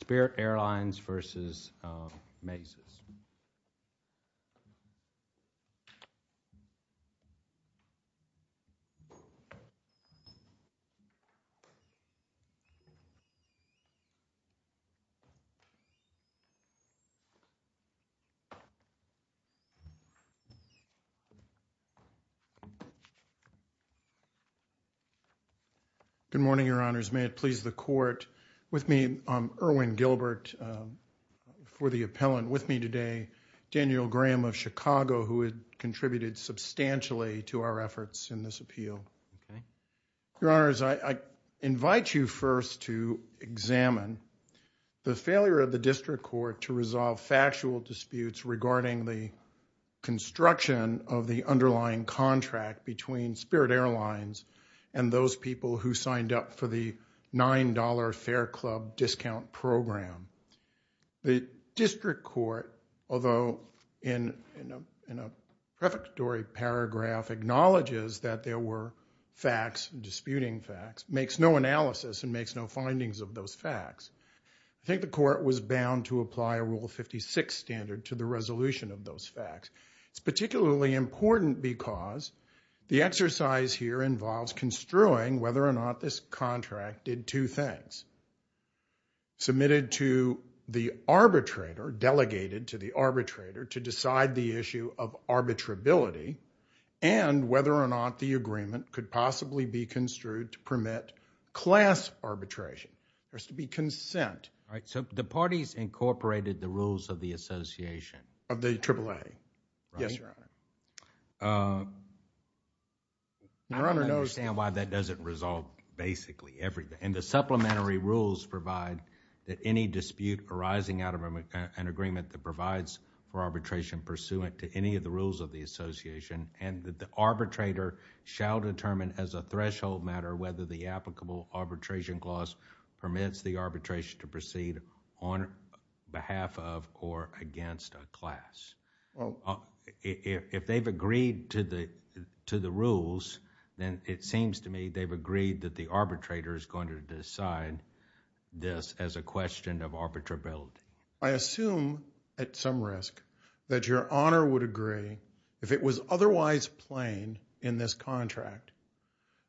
Spirit Airlines v. Maizes Good morning, Your Honors. May it please the Court, with me, Erwin Gilbert, for the Daniel Graham of Chicago, who had contributed substantially to our efforts in this appeal. Your Honors, I invite you first to examine the failure of the District Court to resolve factual disputes regarding the construction of the underlying contract between Spirit Airlines and those people who signed up for the $9 fare club discount program. The District Court, although in a prefatory paragraph, acknowledges that there were facts, disputing facts, makes no analysis and makes no findings of those facts. I think the Court was bound to apply a Rule 56 standard to the resolution of those facts. It's particularly important because the exercise here involves construing whether or not this arbitrator delegated to the arbitrator to decide the issue of arbitrability and whether or not the agreement could possibly be construed to permit class arbitration. There has to be consent. All right, so the parties incorporated the rules of the association. Of the AAA. Yes, Your Honor. I don't understand why that doesn't resolve basically everything. The supplementary rules provide that any dispute arising out of an agreement that provides for arbitration pursuant to any of the rules of the association and that the arbitrator shall determine as a threshold matter whether the applicable arbitration clause permits the arbitration to proceed on behalf of or against a class. If they've agreed to the rules, then it seems to me they've agreed that the arbitrator is going to decide this as a question of arbitrability. I assume at some risk that Your Honor would agree if it was otherwise plain in this contract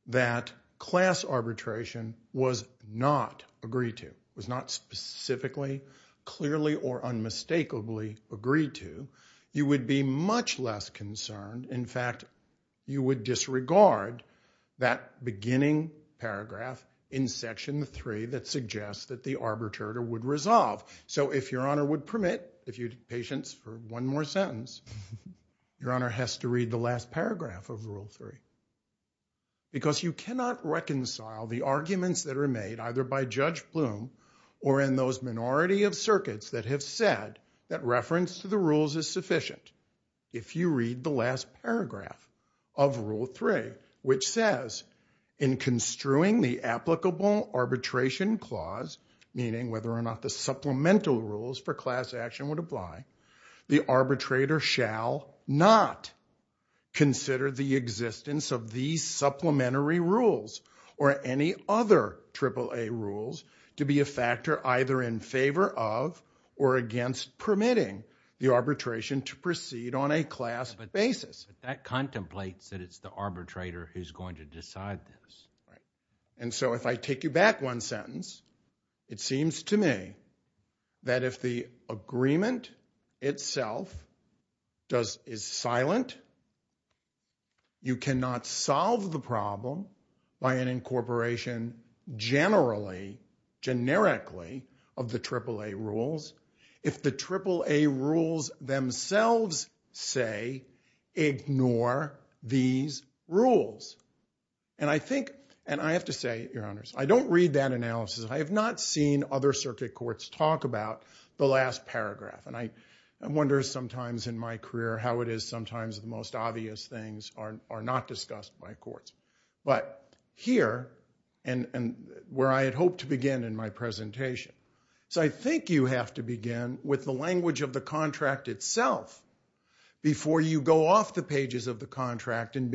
that class arbitration was not agreed to. It was not specifically, clearly or unmistakably agreed to. You would be much less concerned. In fact, you would disregard that beginning paragraph in Section 3 that suggests that the arbitrator would resolve. So if Your Honor would permit, if you'd patience for one more sentence, Your Honor has to read the last paragraph of Rule 3. Because you cannot reconcile the arguments that are made either by Judge Bloom or in those minority of circuits that have said that reference to the rules is sufficient. If you read the last paragraph of Rule 3, which says, in construing the applicable arbitration clause, meaning whether or not the supplemental rules for class action would apply, the arbitrator shall not consider the existence of these supplementary rules or any other AAA rules to be a factor either in favor of or against permitting the arbitration to proceed on a class basis. But that contemplates that it's the arbitrator who's going to decide this. Right. And so if I take you back one sentence, it seems to me that if the agreement itself is silent, you cannot solve the problem by an incorporation generally, generically of the AAA rules. If the AAA rules themselves say, ignore these rules. And I think, and I have to say, Your Honors, I don't read that analysis. I have not seen other circuit courts talk about the last paragraph. And I wonder sometimes in my career how it is sometimes the most obvious things are not discussed by courts. But here, and where I had hoped to begin in my presentation, so I think you have to begin with the language of the contract itself before you go off the pages of the contract and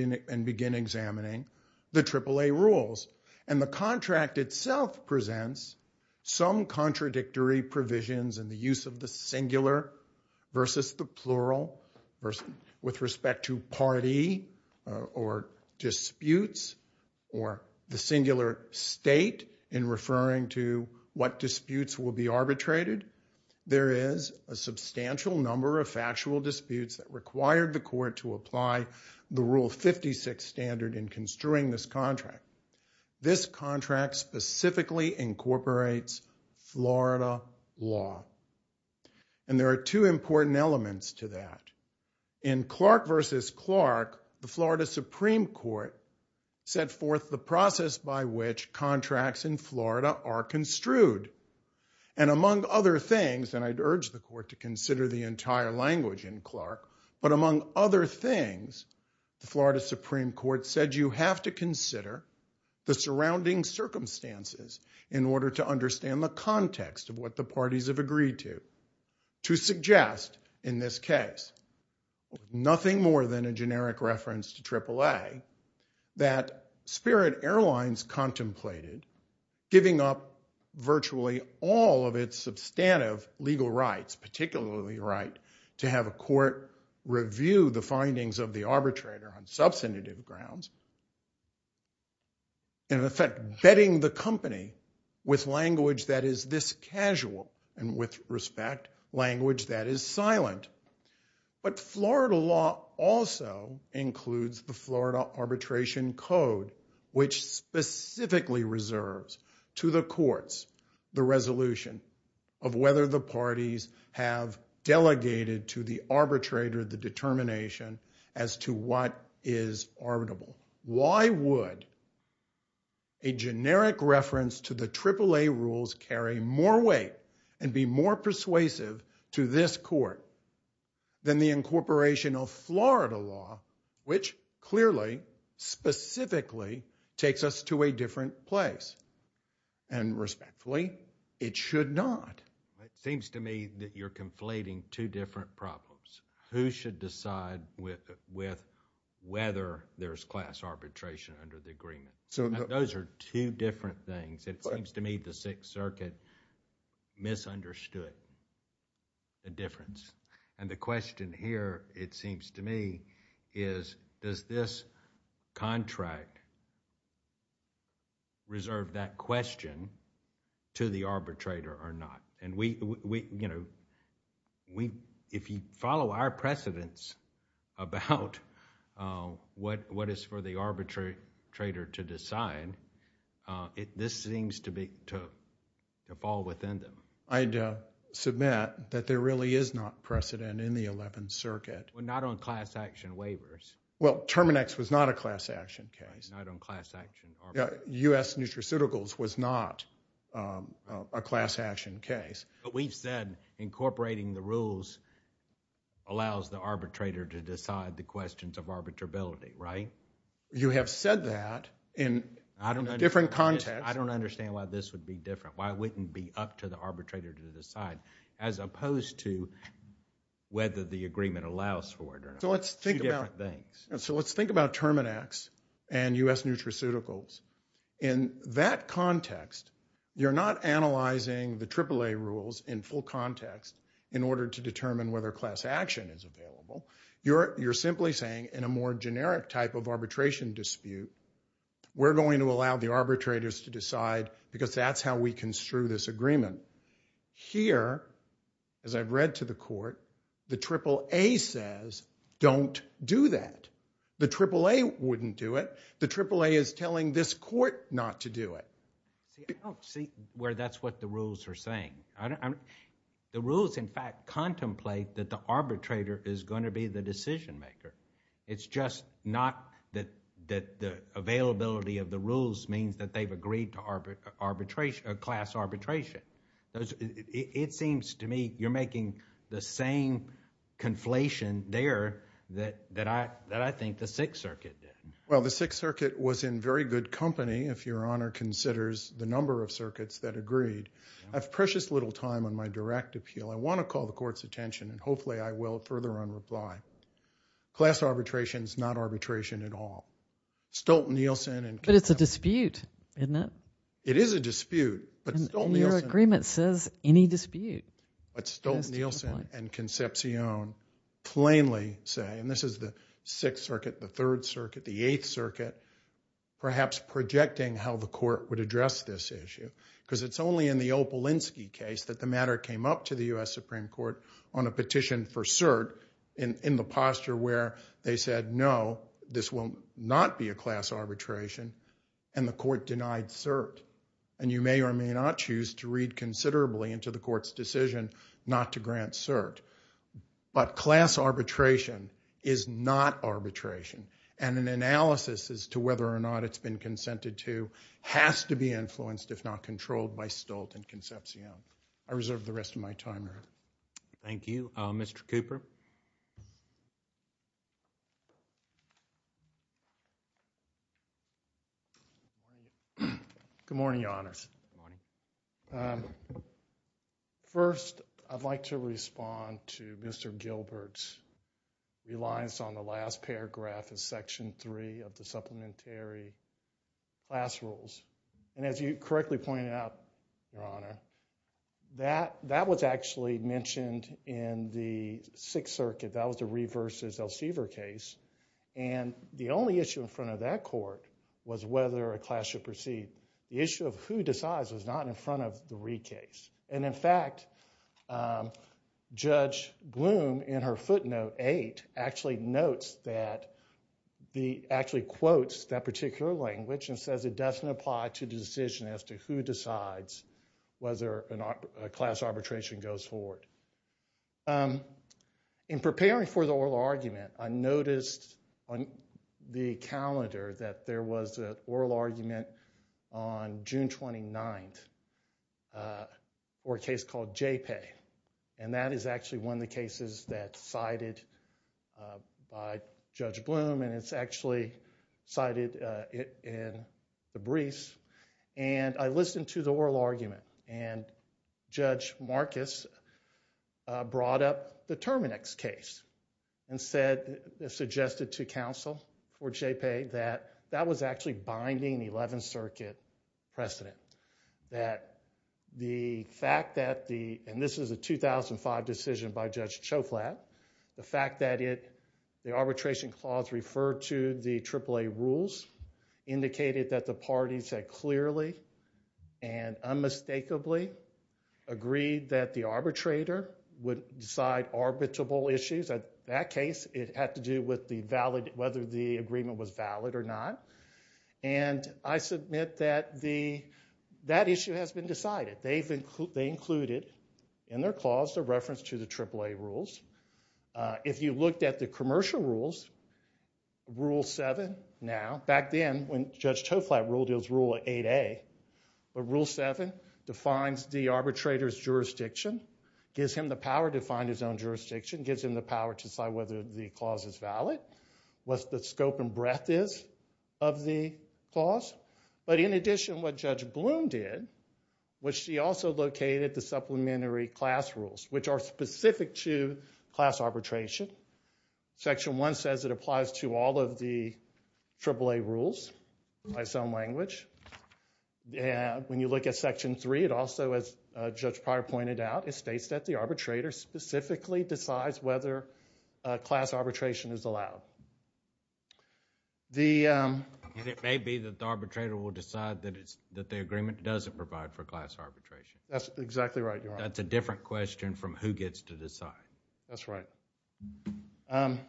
begin examining the AAA rules. And the contract itself presents some contradictory provisions in the use of the singular versus the plural with respect to party or disputes or the singular state in referring to what disputes will be arbitrated. There is a substantial number of factual disputes that required the court to apply the Rule 56 standard in construing this contract. This contract specifically incorporates Florida law. And there are two important elements to that. In Clark versus Clark, the Florida Supreme Court set forth the process by which contracts in Florida are construed. And among other things, and I'd urge the court to consider the entire language in Clark, but among other things, the Florida Supreme Court said you have to consider the surrounding circumstances in order to understand the context of what the parties have agreed to, to suggest in this case, nothing more than a generic reference to AAA, that Spirit Airlines contemplated giving up virtually all of its substantive legal rights, particularly the right to have a court review the findings of the arbitrator on substantive grounds. In effect, betting the company with language that is this casual and with respect, language that is silent. But Florida law also includes the Florida Arbitration Code, which specifically reserves to the courts the resolution of whether the parties have delegated to the arbitrator the determination as to what is arbitrable. Why would a generic reference to the AAA rules carry more weight and be more persuasive to this court than the incorporation of Florida law, which clearly, specifically, takes us to a different place? And respectfully, it should not. It seems to me that you're conflating two different problems. Who should decide with whether there's class arbitration under the agreement? Those are two different things. It seems to me the Sixth Circuit misunderstood the difference. And the question here, it seems to me, is does this contract reserve that question to the arbitrator or not? And we, you know, if you follow our precedents about what is for the arbitrator to decide, this seems to fall within them. I'd submit that there really is not precedent in the Eleventh Circuit. Not on class action waivers. Well, Terminex was not a class action case. Not on class action arbitration. U.S. Nutraceuticals was not a class action case. But we've said incorporating the rules allows the arbitrator to decide the questions of arbitrability, right? You have said that in a different context. I don't understand why this would be different. Why wouldn't it be up to the arbitrator to decide? As opposed to whether the agreement allows for it or not. Two different things. So let's think about Terminex and U.S. Nutraceuticals. In that context, you're not analyzing the AAA rules in full context in order to determine whether class action is available. You're simply saying in a more generic type of arbitration dispute, we're going to allow the arbitrators to decide because that's how we construe this agreement. Here, as I've read to the court, the AAA says don't do that. The AAA wouldn't do it. The AAA is telling this court not to do it. See, I don't see where that's what the rules are saying. The rules, in fact, contemplate that the arbitrator is going to be the decision maker. It's just not that the availability of the rules means that they've agreed to class arbitration. It seems to me you're making the same conflation there that I think the Sixth Circuit did. Well, the Sixth Circuit was in very good company, if Your Honor considers the number of circuits that agreed. I have precious little time on my direct appeal. I want to call the court's attention, and hopefully I will further on reply. Class arbitration is not arbitration at all. Stolt-Nielsen and Concepcion. But it's a dispute, isn't it? It is a dispute, but Stolt-Nielsen. And your agreement says any dispute. But Stolt-Nielsen and Concepcion plainly say, and this is the Sixth Circuit, the Third Circuit, the Eighth Circuit, perhaps projecting how the court would address this issue because it's only in the Opalinsky case that the matter came up to the U.S. Supreme Court on a petition for cert in the posture where they said, no, this will not be a class arbitration, and the court denied cert. And you may or may not choose to read considerably into the court's decision not to grant cert. But class arbitration is not arbitration. And an analysis as to whether or not it's been consented to has to be influenced, if not controlled, by Stolt and Concepcion. I reserve the rest of my time to her. Thank you. Mr. Cooper? Good morning, Your Honors. First, I'd like to respond to Mr. Gilbert's reliance on the last paragraph of Section 3 of the supplementary class rules. And as you correctly pointed out, Your Honor, that was actually mentioned in the Sixth Circuit. That was the Reed v. Elsevier case. And the only issue in front of that court was whether a class should proceed. The issue of who decides was not in front of the Reed case. And in fact, Judge Gloom, in her footnote 8, actually quotes that particular language and says it doesn't apply to the decision as to who decides whether a class arbitration goes forward. In preparing for the oral argument, I noticed on the calendar that there was an oral argument on June 29th for a case called JPEI. And that is actually one of the cases that's cited by Judge Gloom. And it's actually cited in the briefs. And I listened to the oral argument. And Judge Marcus brought up the Terminex case and suggested to counsel for JPEI that that was actually binding the Eleventh Circuit precedent. And this is a 2005 decision by Judge Choflat. The fact that the arbitration clause referred to the AAA rules indicated that the parties had clearly and unmistakably agreed that the arbitrator would decide arbitrable issues. In that case, it had to do with whether the agreement was valid or not. And I submit that that issue has been decided. They included in their clause the reference to the AAA rules. If you looked at the commercial rules, Rule 7 now... Back then, when Judge Choflat ruled, it was Rule 8A. But Rule 7 defines the arbitrator's jurisdiction, gives him the power to find his own jurisdiction, gives him the power to decide whether the clause is valid, what the scope and breadth is of the clause. But in addition, what Judge Bloom did was she also located the supplementary class rules, which are specific to class arbitration. Section 1 says it applies to all of the AAA rules by some language. When you look at Section 3, it also, as Judge Pryor pointed out, it states that the arbitrator specifically decides whether class arbitration is allowed. It may be that the arbitrator will decide that the agreement doesn't provide for class arbitration. That's exactly right, Your Honor. That's a different question from who gets to decide. That's right. I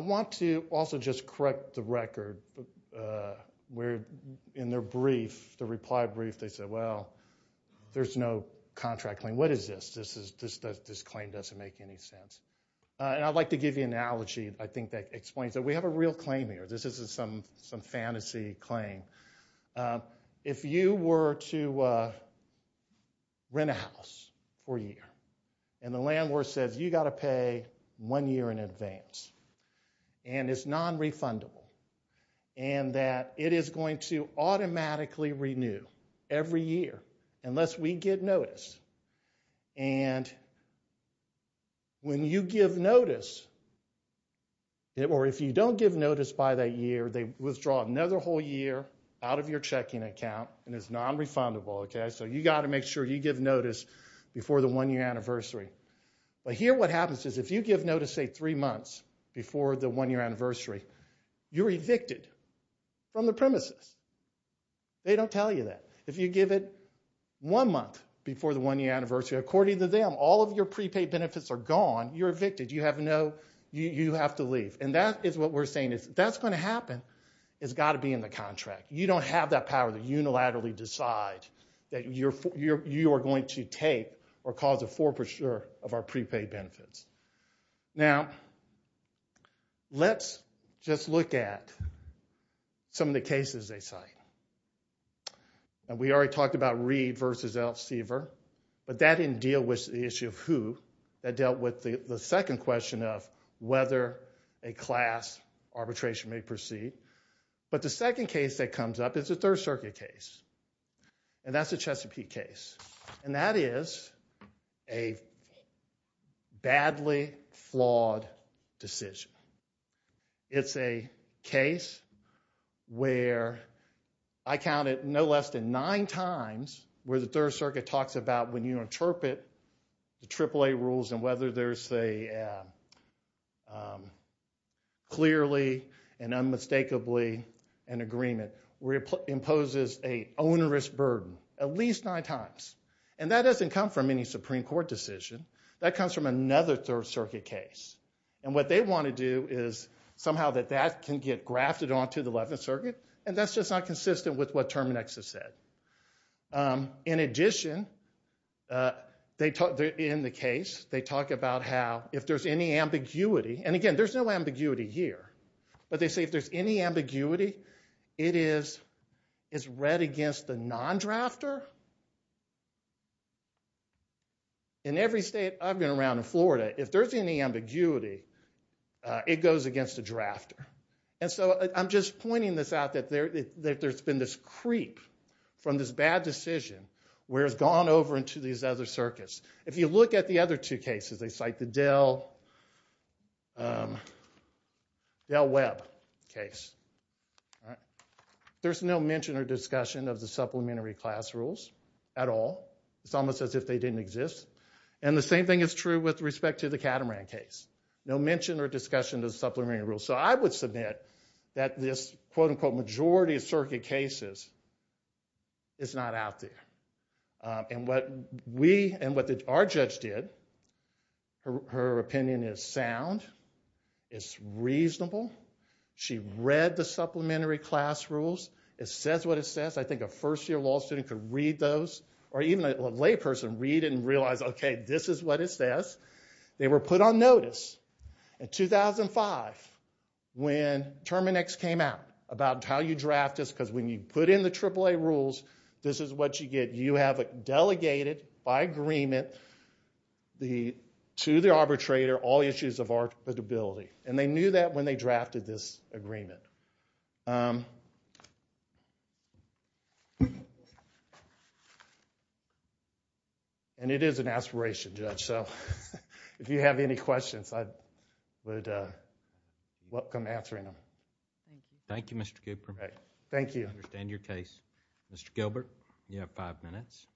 want to also just correct the record. In their reply brief, they said, well, there's no contract claim. What is this? This claim doesn't make any sense. I'd like to give you an analogy, I think, that explains it. We have a real claim here. This isn't some fantasy claim. If you were to rent a house for a year, and the landlord says you've got to pay one year in advance, and it's non-refundable, and that it is going to automatically renew every year unless we get notice, and when you give notice, or if you don't give notice by that year, they withdraw another whole year out of your checking account, and it's non-refundable. So you've got to make sure you give notice before the one-year anniversary. But here what happens is if you give notice, say, three months before the one-year anniversary, you're evicted from the premises. They don't tell you that. If you give it one month before the one-year anniversary, according to them, all of your prepaid benefits are gone. You're evicted. You have to leave. And that is what we're saying. If that's going to happen, it's got to be in the contract. You don't have that power to unilaterally decide that you are going to take or cause a forfeiture of our prepaid benefits. Now, let's just look at some of the cases they cite. We already talked about Reed v. Elsevier, but that didn't deal with the issue of who. That dealt with the second question of whether a class arbitration may proceed. But the second case that comes up is a Third Circuit case, and that's the Chesapeake case. And that is a badly flawed decision. It's a case where I counted no less than nine times where the Third Circuit talks about when you interpret the AAA rules and whether there's a clearly and unmistakably an agreement, where it imposes an onerous burden at least nine times. And that doesn't come from any Supreme Court decision. That comes from another Third Circuit case. And what they want to do is somehow that that can get grafted onto the Eleventh Circuit, and that's just not consistent with what Terminex has said. In addition, in the case, they talk about how if there's any ambiguity, and again, there's no ambiguity here, but they say if there's any ambiguity, it is read against the non-drafter. In every state I've been around, in Florida, if there's any ambiguity, it goes against the drafter. And so I'm just pointing this out that there's been this creep from this bad decision where it's gone over into these other circuits. If you look at the other two cases, they cite the Del Webb case. There's no mention or discussion of the supplementary class rules at all. It's almost as if they didn't exist. And the same thing is true with respect to the Catamaran case. No mention or discussion of the supplementary rules. So I would submit that this, quote-unquote, majority of Circuit cases is not out there. And what we and what our judge did, her opinion is sound, it's reasonable. She read the supplementary class rules. It says what it says. I think a first-year law student could read those, or even a layperson, read it and realize, OK, this is what it says. They were put on notice in 2005 when Terminex came out about how you draft this. Because when you put in the AAA rules, this is what you get. You have it delegated by agreement to the arbitrator all the issues of arbitrability. And they knew that when they drafted this agreement. And it is an aspiration, Judge. So if you have any questions, I would welcome answering them. Thank you, Mr. Cooper. Thank you. I understand your case. Mr. Gilbert, you have five minutes.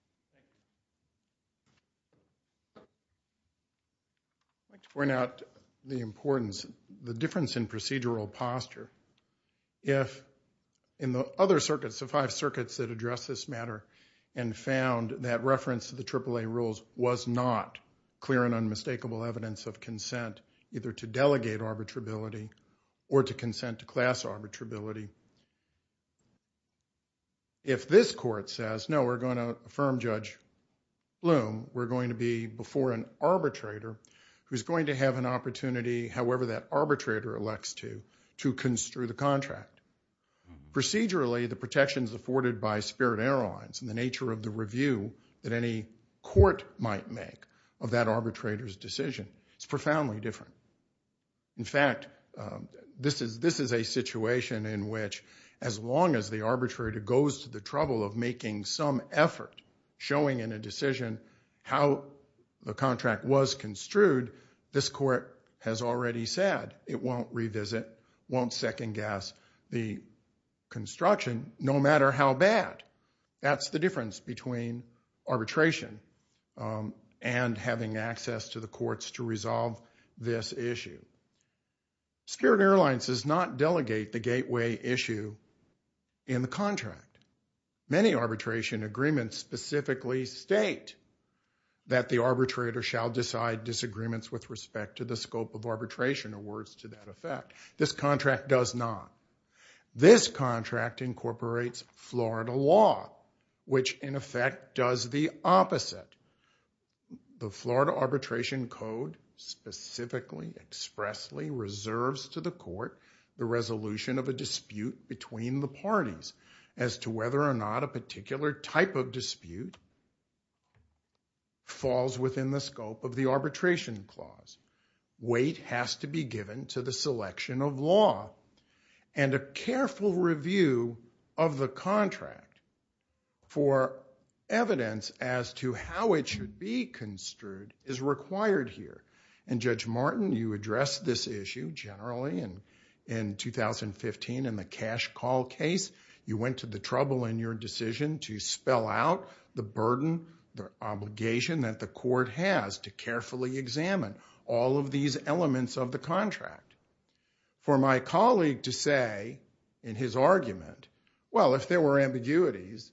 I'd like to point out the importance, the difference in procedural posture. If in the other circuits, the five circuits that address this matter, and found that reference to the AAA rules was not clear and unmistakable evidence of consent, either to delegate arbitrability or to consent to class arbitrability. If this court says, no, we're going to affirm Judge Bloom, we're going to be before an arbitrator who's going to have an opportunity, however that arbitrator elects to, to construe the contract. Procedurally, the protections afforded by Spirit Airlines and the nature of the review that any court might make of that arbitrator's decision is profoundly different. In fact, this is a situation in which as long as the arbitrator goes to the trouble of making some effort showing in a decision how the contract was construed, this court has already said, it won't revisit, won't second guess the construction no matter how bad. That's the difference between arbitration and having access to the courts to resolve this issue. Spirit Airlines does not delegate the gateway issue in the contract. Many arbitration agreements specifically state that the arbitrator shall decide disagreements with respect to the scope of arbitration or words to that effect. This contract does not. This contract incorporates Florida law, which in effect does the opposite. The Florida Arbitration Code specifically expressly reserves to the court the resolution of a dispute between the parties as to whether or not a particular type of dispute falls within the scope of the arbitration clause. Weight has to be given to the selection of law. And a careful review of the contract for evidence as to how it should be construed is required here. And Judge Martin, you addressed this issue generally in 2015 in the cash call case. You went to the trouble in your decision to spell out the burden, the obligation that the court has to carefully examine all of these elements of the contract. For my colleague to say in his argument, well, if there were ambiguities,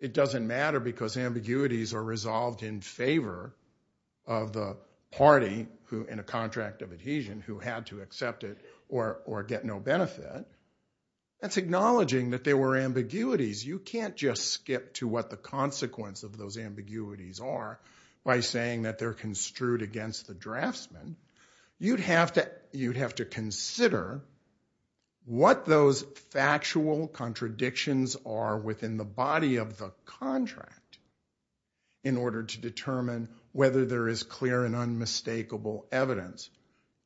it doesn't matter because ambiguities are resolved in favor of the party in a contract of adhesion who had to accept it or get no benefit. That's acknowledging that there were ambiguities. You can't just skip to what the consequence of those ambiguities are by saying that they're construed against the draftsman. You'd have to consider what those factual contradictions are within the body of the contract in order to determine whether there is clear and unmistakable evidence.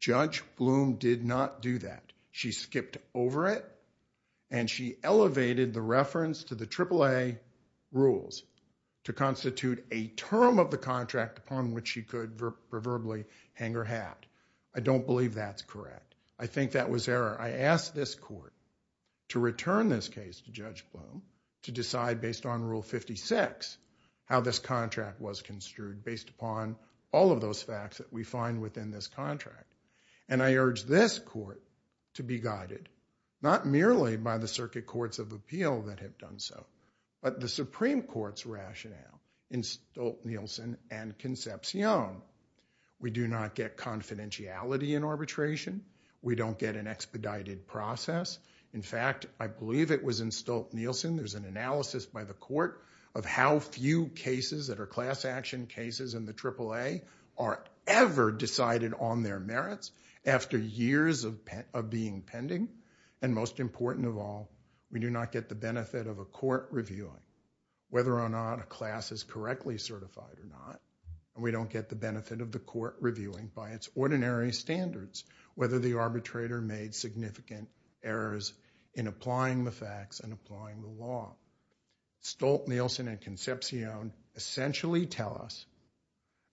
Judge Bloom did not do that. She skipped over it and she elevated the reference to the AAA rules to constitute a term of the contract upon which she could proverbially hang her hat. I don't believe that's correct. I think that was error. I asked this court to return this case to Judge Bloom to decide based on Rule 56 how this contract was construed based upon all of those facts that we find within this contract. I urge this court to be guided not merely by the Circuit Courts of Appeal that have done so but the Supreme Court's rationale in Stolt-Nielsen and Concepcion. We do not get confidentiality in arbitration. We don't get an expedited process. In fact, I believe it was in Stolt-Nielsen. There's an analysis by the court of how few cases that are class action cases in the AAA are ever decided on their merits after years of being pending. And most important of all, we do not get the benefit of a court reviewing whether or not a class is correctly certified or not. We don't get the benefit of the court reviewing by its ordinary standards whether the arbitrator made significant errors in applying the facts and applying the law. Stolt-Nielsen and Concepcion essentially tell us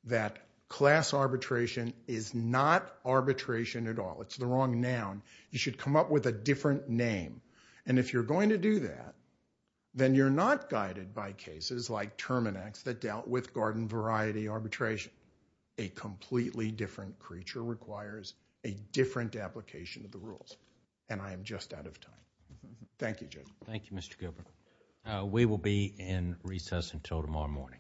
that class arbitration is not arbitration at all. It's the wrong noun. You should come up with a different name. And if you're going to do that, then you're not guided by cases like Terminex that dealt with garden variety arbitration. A completely different creature requires a different application of the rules. And I am just out of time. Thank you, Judge. Thank you, Mr. Governor. We will be in recess until tomorrow morning.